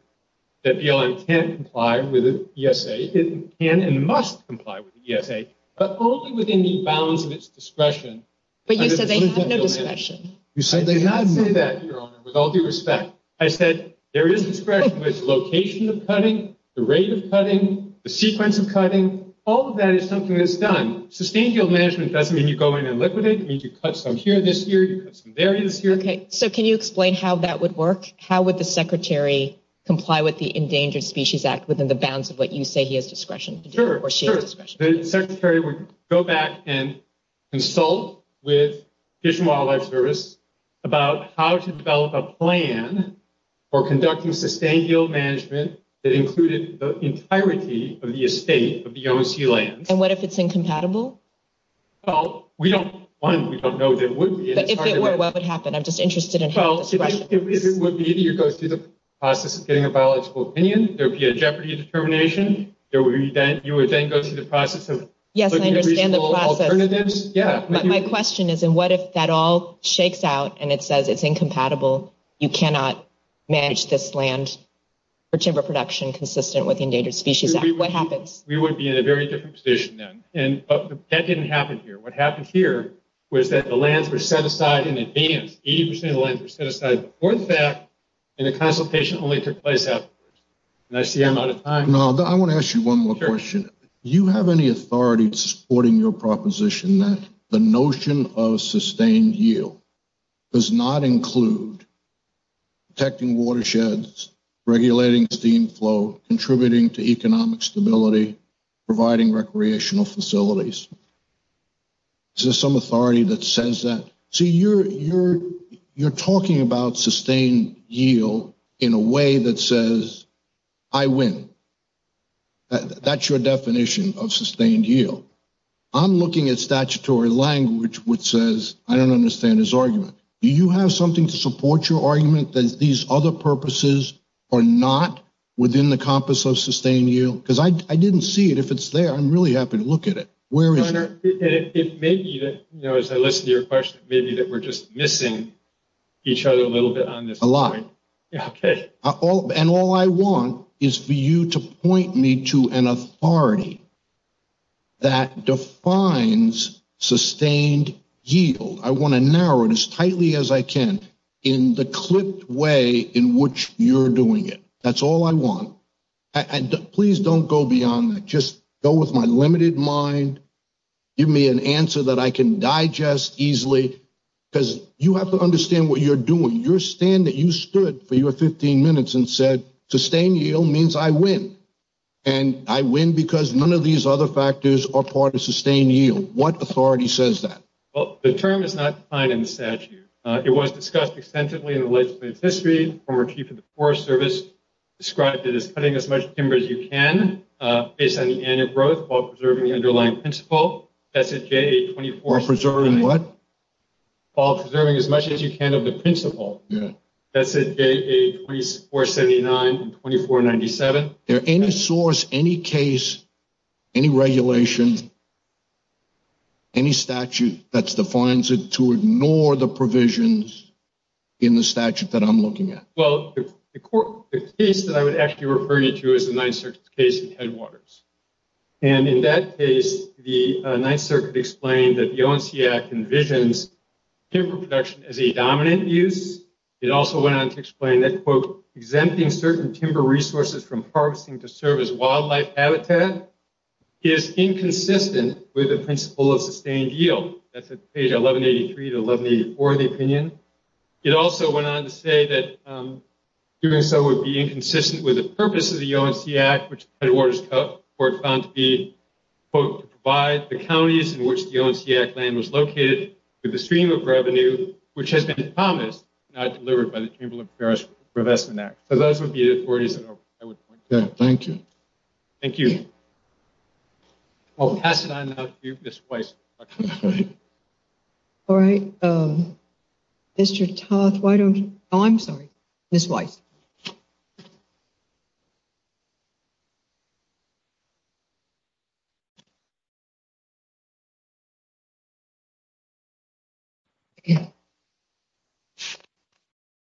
that BLM can't comply with the ESA. It can and must comply with the ESA, but only within the bounds of its discretion. But you said they have no discretion. I did not say that, Your Honor, with all due respect. I said there is discretion with the location of cutting, the rate of cutting, the sequence of cutting. All of that is something that's done. Sustained yield management doesn't mean you go in and liquidate. It means you cut some here this year, you cut some there this year. Okay. So can you explain how that would work? How would the Secretary comply with the Endangered Species Act within the bounds of what you say he has discretion to do? Sure, sure. The Secretary would go back and consult with Fish and Wildlife Service about how to develop a plan for conducting sustained yield management that included the entirety of the estate of the OSC lands. And what if it's incompatible? Well, we don't want, we don't know that it would be. But if it were, what would happen? I'm just interested in hearing this question. If it would be that you go through the process of getting a biological opinion, there would be a jeopardy determination. Yes, I understand the process. My question is, what if that all shakes out and it says it's incompatible? You cannot manage this land for timber production consistent with the Endangered Species Act. What happens? We would be in a very different position then. And that didn't happen here. What happened here was that the lands were set aside in advance. 80% of the lands were set aside before the fact, and the consultation only took place afterwards. And I see I'm out of time. No, I want to ask you one more question. You have any authority supporting your proposition that the notion of sustained yield does not include protecting watersheds, regulating steam flow, contributing to economic stability, providing recreational facilities? Is there some authority that says that? See, you're talking about sustained yield in a way that says, I win. That's your definition of sustained yield. I'm looking at statutory language which says, I don't understand his argument. Do you have something to support your argument that these other purposes are not within the compass of sustained yield? Because I didn't see it. If it's there, I'm really happy to look at it. Where is it? Senator, it may be that, as I listen to your question, it may be that we're just missing each other a little bit on this point. A lot. Okay. And all I want is for you to point me to an authority that defines sustained yield. I want to narrow it as tightly as I can in the clipped way in which you're doing it. That's all I want. Please don't go beyond that. Just go with my limited mind. Give me an answer that I can digest easily. Because you have to understand what you're doing. You stood for your 15 minutes and said, sustained yield means I win. And I win because none of these other factors are part of sustained yield. What authority says that? Well, the term is not defined in the statute. It was discussed extensively in the legislative history. Former Chief of the Forest Service described it as cutting as much timber as you can based on the annual growth while preserving the underlying principle. That's a J-A-24. While preserving what? While preserving as much as you can of the principle. Yeah. That's a J-A-2479 and 2497. Is there any source, any case, any regulation, any statute that defines it to ignore the provisions in the statute that I'm looking at? Well, the case that I would actually refer you to is the Ninth Circuit case in Headwaters. And in that case, the Ninth Circuit explained that the ONC Act envisions timber production as a dominant use. It also went on to explain that, quote, exempting certain timber resources from harvesting to serve as wildlife habitat is inconsistent with the principle of sustained yield. That's at page 1183 to 1184 of the opinion. It also went on to say that doing so would be inconsistent with the purpose of the ONC Act, which Headwaters Court found to be, quote, to provide the counties in which the ONC Act land was located with a stream of revenue, which has been promised, not delivered by the Chamber of Commerce Provestment Act. So those would be the authorities that I would point to. Okay. Thank you. Thank you. I'll pass it on now to Ms. Weiss. All right. Mr. Toth, why don't you... Oh, I'm sorry. Ms. Weiss.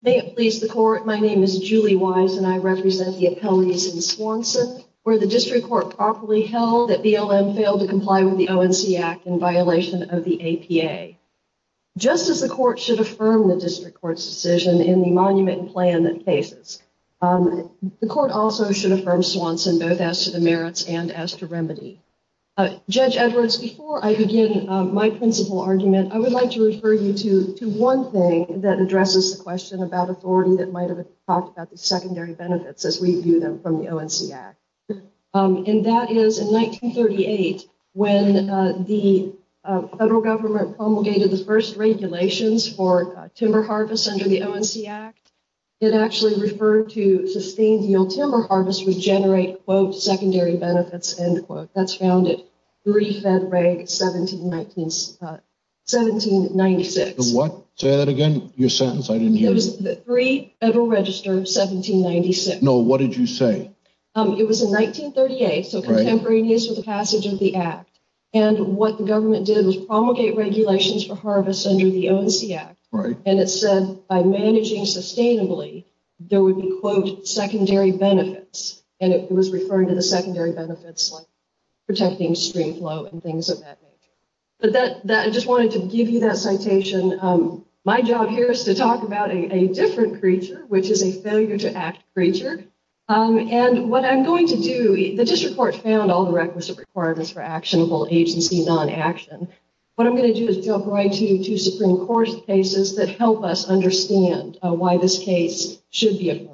May it please the Court, my name is Julie Weiss, and I represent the appellees in Swanson, where the District Court properly held that BLM failed to comply with the ONC Act in violation of the APA. Just as the Court should affirm the District Court's decision in the monument plan that merits and as to remedy. Judge Edwards, before I begin my principle argument, I would like to refer you to one thing that addresses the question about authority that might have talked about the secondary benefits as we view them from the ONC Act. And that is in 1938, when the federal government promulgated the first regulations for timber harvest under the ONC Act, it actually referred to sustained yield timber harvest regenerate, quote, secondary benefits, end quote. That's found at 3 Fed Reg 1796. The what? Say that again. Your sentence, I didn't hear. It was 3 Federal Register 1796. No, what did you say? It was in 1938, so contemporaneous with the passage of the Act. And what the government did was promulgate regulations for harvest under the ONC Act. Right. And it said, by managing sustainably, there would be, quote, secondary benefits. And it was referring to the secondary benefits like protecting stream flow and things of that nature. But that I just wanted to give you that citation. My job here is to talk about a different creature, which is a failure to act creature. And what I'm going to do, the district court found all the requisite requirements for actionable agency non-action. What I'm going to do is go right to two Supreme Court cases that help us understand why this case should be adjourned.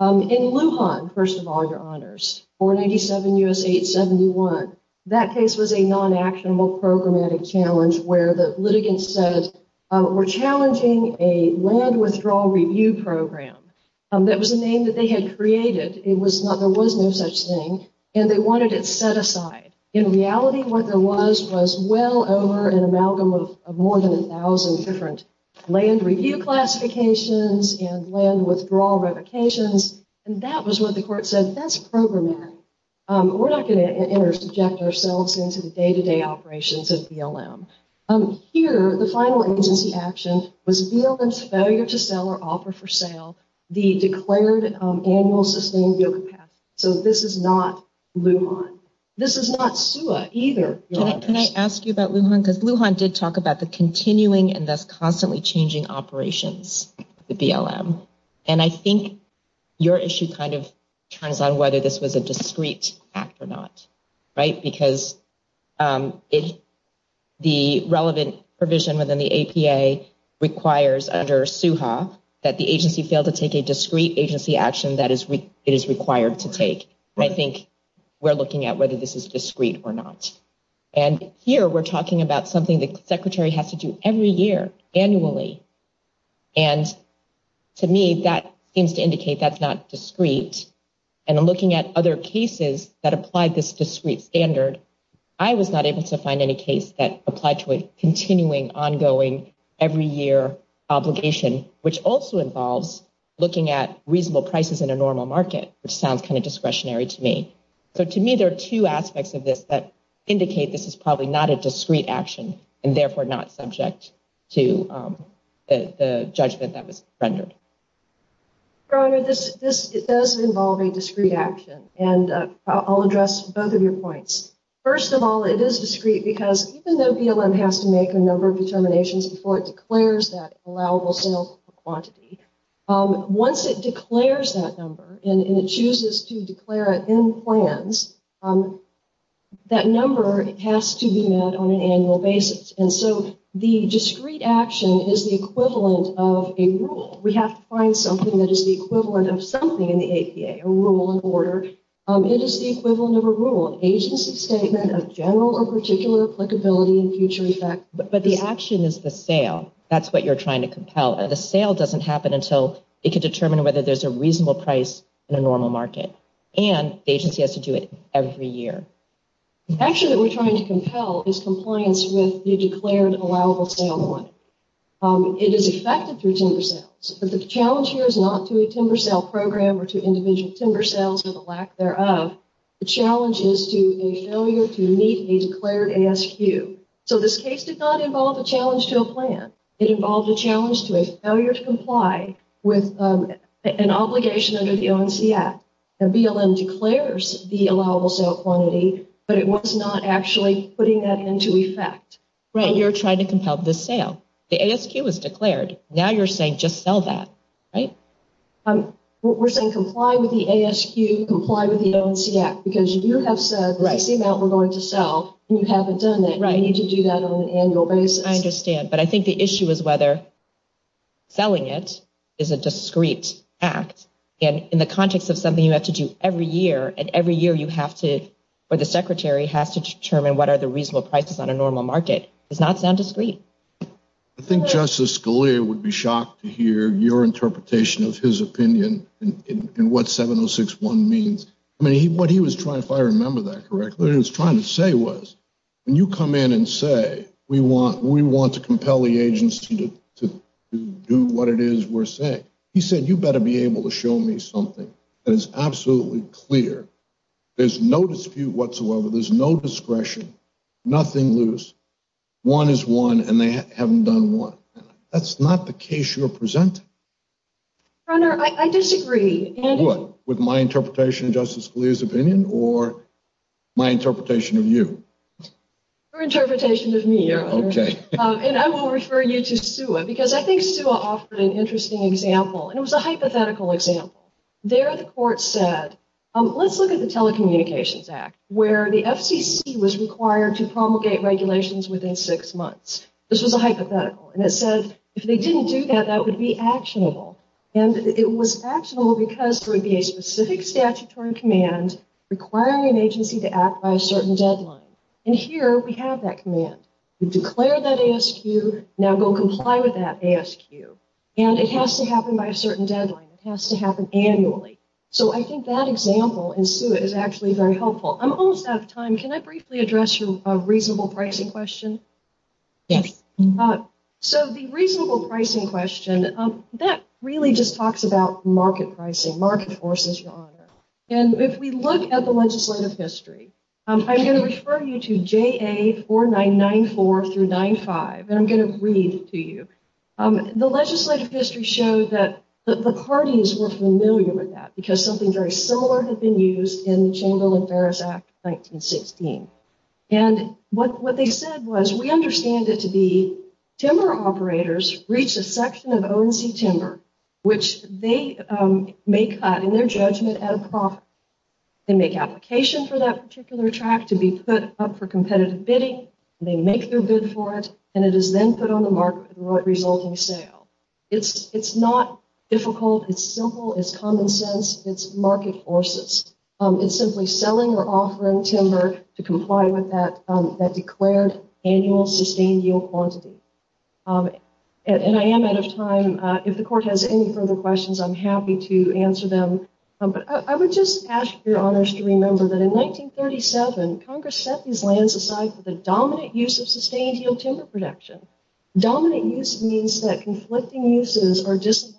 In Lujan, first of all, your honors, 497 U.S. 871, that case was a non-actionable programmatic challenge where the litigants said, we're challenging a land withdrawal review program. That was a name that they had created. It was not, there was no such thing. And they wanted it set aside. In reality, what there was, was well over an amalgam of more than a thousand different land review classifications and land withdrawal revocations. And that was what the court said. That's programmatic. We're not going to interject ourselves into the day-to-day operations of BLM. Here, the final agency action was BLM's failure to sell or offer for sale the declared annual sustained yield capacity. So this is not Lujan. This is not SUA either. Can I ask you about Lujan? Because Lujan did talk about the continuing and thus constantly changing operations of the BLM. And I think your issue kind of turns on whether this was a discrete act or not, right? Because the relevant provision within the APA requires under SUHA that the agency fail to take a discrete agency action that it is required to take. I think we're looking at whether this is discrete or not. And here we're talking about something the secretary has to do every year annually. And to me, that seems to indicate that's not discrete. And I'm looking at other cases that applied this discrete standard. I was not able to find any case that applied to a continuing ongoing every year obligation, which also involves looking at reasonable prices in a normal market, which sounds kind of discretionary to me. So to me, there are two aspects of this that indicate this is probably not a discrete action and therefore not subject to the judgment that was rendered. Your Honor, this does involve a discrete action. And I'll address both of your points. First of all, it is discrete because even though BLM has to make a number of determinations before it declares that allowable sales quantity, once it declares that number and it chooses to declare it in plans, that number has to be met on an annual basis. And so the discrete action is the equivalent of a rule. We have to find something that is the equivalent of something in the APA, a rule of order. It is the equivalent of a rule, an agency statement of general or particular applicability in future effect. But the action is the sale. That's what you're trying to compel. The sale doesn't happen until it can determine whether there's a reasonable price in a normal market, and the agency has to do it every year. The action that we're trying to compel is compliance with the declared allowable sale quantity. It is effective through timber sales, but the challenge here is not to a timber sale program or to individual timber sales or the lack thereof. The challenge is to a failure to meet a declared ASQ. So this case did not involve a challenge to a plan. It involved a challenge to a failure to comply with an obligation under the ONC Act. The BLM declares the allowable sale quantity, but it was not actually putting that into effect. Right. You're trying to compel the sale. The ASQ was declared. Now you're saying just sell that, right? We're saying comply with the ASQ, comply with the ONC Act, because you have said that's the amount we're going to sell, and you haven't done that. You need to do that on an annual basis. I understand. But I think the issue is whether selling it is a discreet act. And in the context of something you have to do every year, and every year you have to, or the secretary has to determine what are the reasonable prices on a normal market does not sound discreet. I think Justice Scalia would be shocked to hear your interpretation of his opinion in what 706.1 means. I mean, what he was trying, if I remember that correctly, what he was trying to say when you come in and say, we want to compel the agency to do what it is we're saying. He said, you better be able to show me something that is absolutely clear. There's no dispute whatsoever. There's no discretion, nothing loose. One is one, and they haven't done one. That's not the case you're presenting. Your Honor, I disagree. With my interpretation of Justice Scalia's opinion or my interpretation of you? Your interpretation of me, Your Honor. OK. And I will refer you to SUA, because I think SUA offered an interesting example. And it was a hypothetical example. There the court said, let's look at the Telecommunications Act, where the FCC was required to promulgate regulations within six months. This was a hypothetical. And it said, if they didn't do that, that would be actionable. And it was actionable because there would be a specific statutory command requiring an agency to act by a certain deadline. And here, we have that command. We declare that ASQ, now go comply with that ASQ. And it has to happen by a certain deadline. It has to happen annually. So I think that example in SUA is actually very helpful. I'm almost out of time. Can I briefly address your reasonable pricing question? Yes. market forces, Your Honor. And if we look at the legislative history, I'm going to refer you to JA 4994 through 95. And I'm going to read to you. The legislative history showed that the parties were familiar with that, because something very similar had been used in the Chamber of Affairs Act of 1916. And what they said was, we understand it to be timber operators reach a section of ONC They make application for that particular track to be put up for competitive bidding. They make their bid for it. And it is then put on the market for the resulting sale. It's not difficult. It's simple. It's common sense. It's market forces. It's simply selling or offering timber to comply with that declared annual sustained yield quantity. And I am out of time. If the Court has any further questions, I'm happy to answer them. But I would just ask Your Honors to remember that in 1937, Congress set these lands aside for the dominant use of sustained yield timber production. Dominant use means that conflicting uses are disallowed.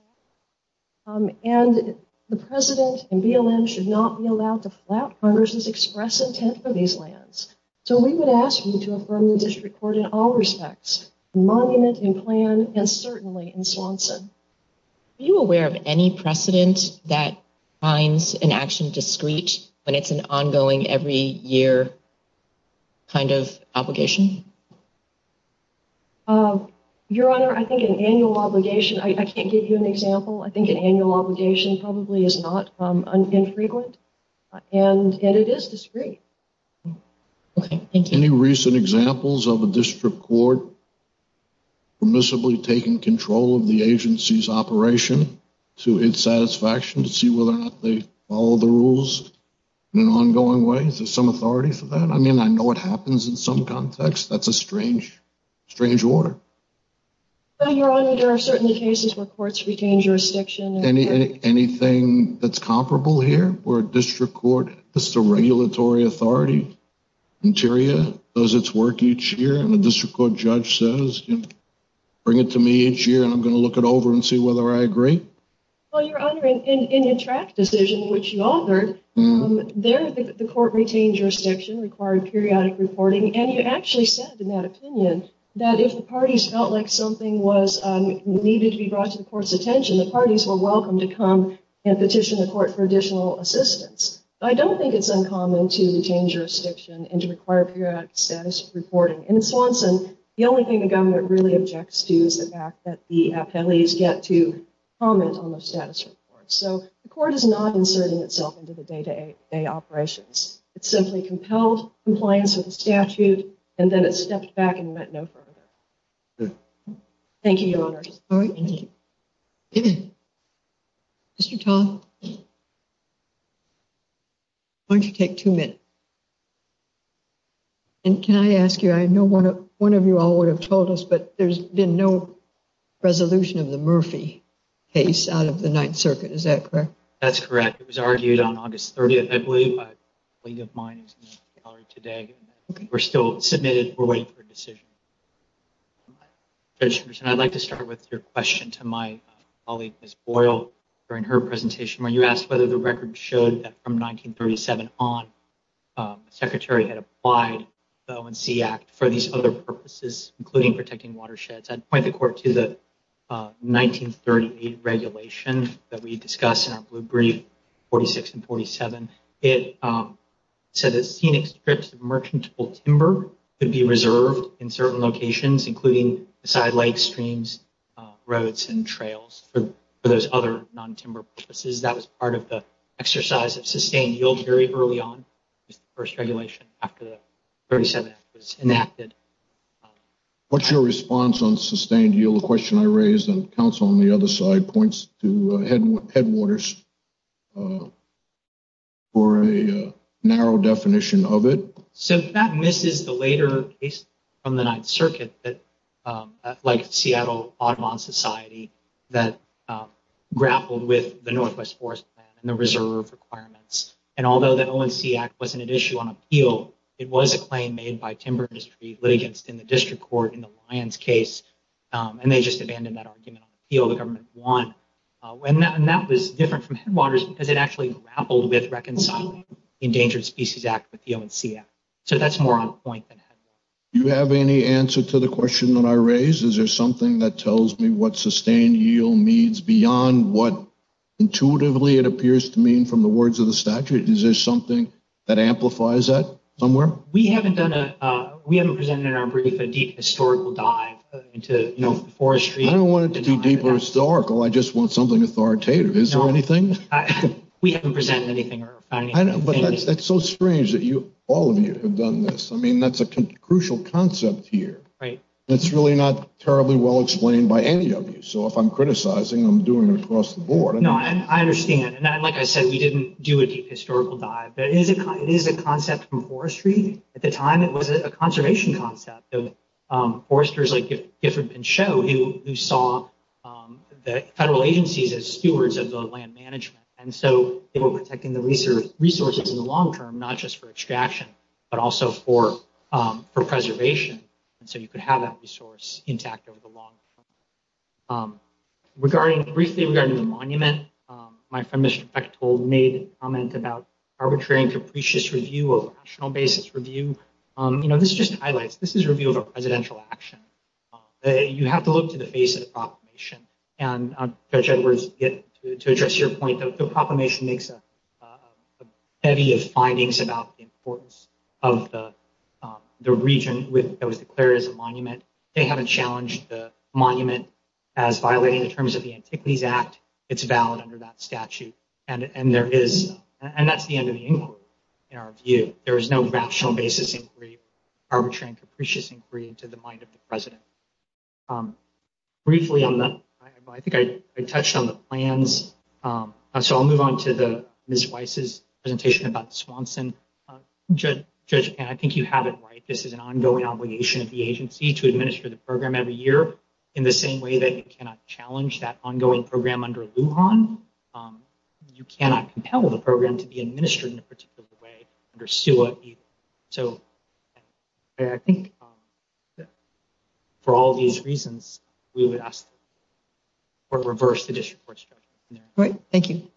And the President and BLM should not be allowed to flout Congress's express intent for these lands. So we would ask you to affirm the District Court in all respects, monument in plan, and certainly in Swanson. Are you aware of any precedent that finds an action discreet when it's an ongoing every year kind of obligation? Your Honor, I think an annual obligation, I can't give you an example. I think an annual obligation probably is not infrequent. And it is discreet. Okay, thank you. Any recent examples of a District Court permissibly taking control of the agency's operation to its satisfaction to see whether or not they follow the rules in an ongoing way? Is there some authority for that? I mean, I know it happens in some context. That's a strange, strange order. Your Honor, there are certain cases where courts retain jurisdiction. Anything that's comparable here, where a District Court, this is a regulatory authority? Interior does its work each year, and the District Court judge says, bring it to me each year, and I'm going to look it over and see whether I agree? Well, Your Honor, in your track decision, which you authored, there the court retained jurisdiction, required periodic reporting. And you actually said in that opinion that if the parties felt like something was needed to be brought to the court's attention, the parties were welcome to come and petition the court for additional assistance. But I don't think it's uncommon to retain jurisdiction and to require periodic status reporting. In Swanson, the only thing the government really objects to is the fact that the appellees get to comment on their status reports. So the court is not inserting itself into the day-to-day operations. It simply compelled compliance with the statute, and then it stepped back and went no further. Thank you, Your Honor. All right. Mr. Tom, why don't you take two minutes? And can I ask you, I know one of you all would have told us, but there's been no resolution of the Murphy case out of the Ninth Circuit. Is that correct? That's correct. It was argued on August 30th. I believe a link of mine is in the gallery today. We're still submitting. We're waiting for a decision. Judge Henderson, I'd like to start with your question to my colleague, Ms. Boyle, during her presentation, where you asked whether the record showed that from 1937 on, the Secretary had applied the O&C Act for these other purposes, including protecting watersheds. I'd point the court to the 1938 regulation that we discussed in our blue brief, 46 and 47. It said that scenic strips of merchantable timber could be reserved in certain locations, including sidelight streams, roads, and trails for those other non-timber purposes. That was part of the exercise of sustained yield very early on, the first regulation after the 37th was enacted. What's your response on sustained yield? The question I raised, and counsel on the other side points to headwaters. For a narrow definition of it. So that misses the later case from the Ninth Circuit that, like Seattle Audubon Society, that grappled with the Northwest Forest Plan and the reserve requirements. And although the O&C Act wasn't at issue on appeal, it was a claim made by timber industry litigants in the district court in the Lyons case. And they just abandoned that argument on appeal. The government won. That was different from headwaters because it actually grappled with reconciling the Endangered Species Act with the O&C Act. So that's more on point than headwaters. Do you have any answer to the question that I raised? Is there something that tells me what sustained yield means beyond what intuitively it appears to mean from the words of the statute? Is there something that amplifies that somewhere? We haven't presented in our brief a deep historical dive into forestry. I don't want it to be deep or historical. I just want something authoritative. Is there anything? We haven't presented anything. But that's so strange that all of you have done this. I mean, that's a crucial concept here. It's really not terribly well explained by any of you. So if I'm criticizing, I'm doing it across the board. No, I understand. And like I said, we didn't do a deep historical dive. But it is a concept from forestry. At the time, it was a conservation concept. Foresters like Gifford Pinchot, who saw the federal agencies as stewards of the land management. And so they were protecting the resources in the long term, not just for extraction, but also for preservation. And so you could have that resource intact over the long term. Briefly regarding the monument, my friend Mr. Bechtol made a comment about arbitrary and capricious review over rational basis review. This just highlights. This is a review of a presidential action. You have to look to the face of the proclamation. And Judge Edwards, to address your point, the proclamation makes a heavy of findings about the importance of the region that was declared as a monument. They haven't challenged the monument as violating the terms of the Antiquities Act. It's valid under that statute. And that's the end of the inquiry, in our view. There is no rational basis inquiry, arbitrary and capricious inquiry, to the mind of the president. Briefly on that, I think I touched on the plans. So I'll move on to Ms. Weiss's presentation about Swanson. Judge Penn, I think you have it right. This is an ongoing obligation of the agency to administer the program every year. In the same way that you cannot challenge that ongoing program under Lujan, you cannot compel the program to be administered in a particular way under SUA. So I think that for all these reasons, we would ask for reverse the district court structure. All right. Thank you.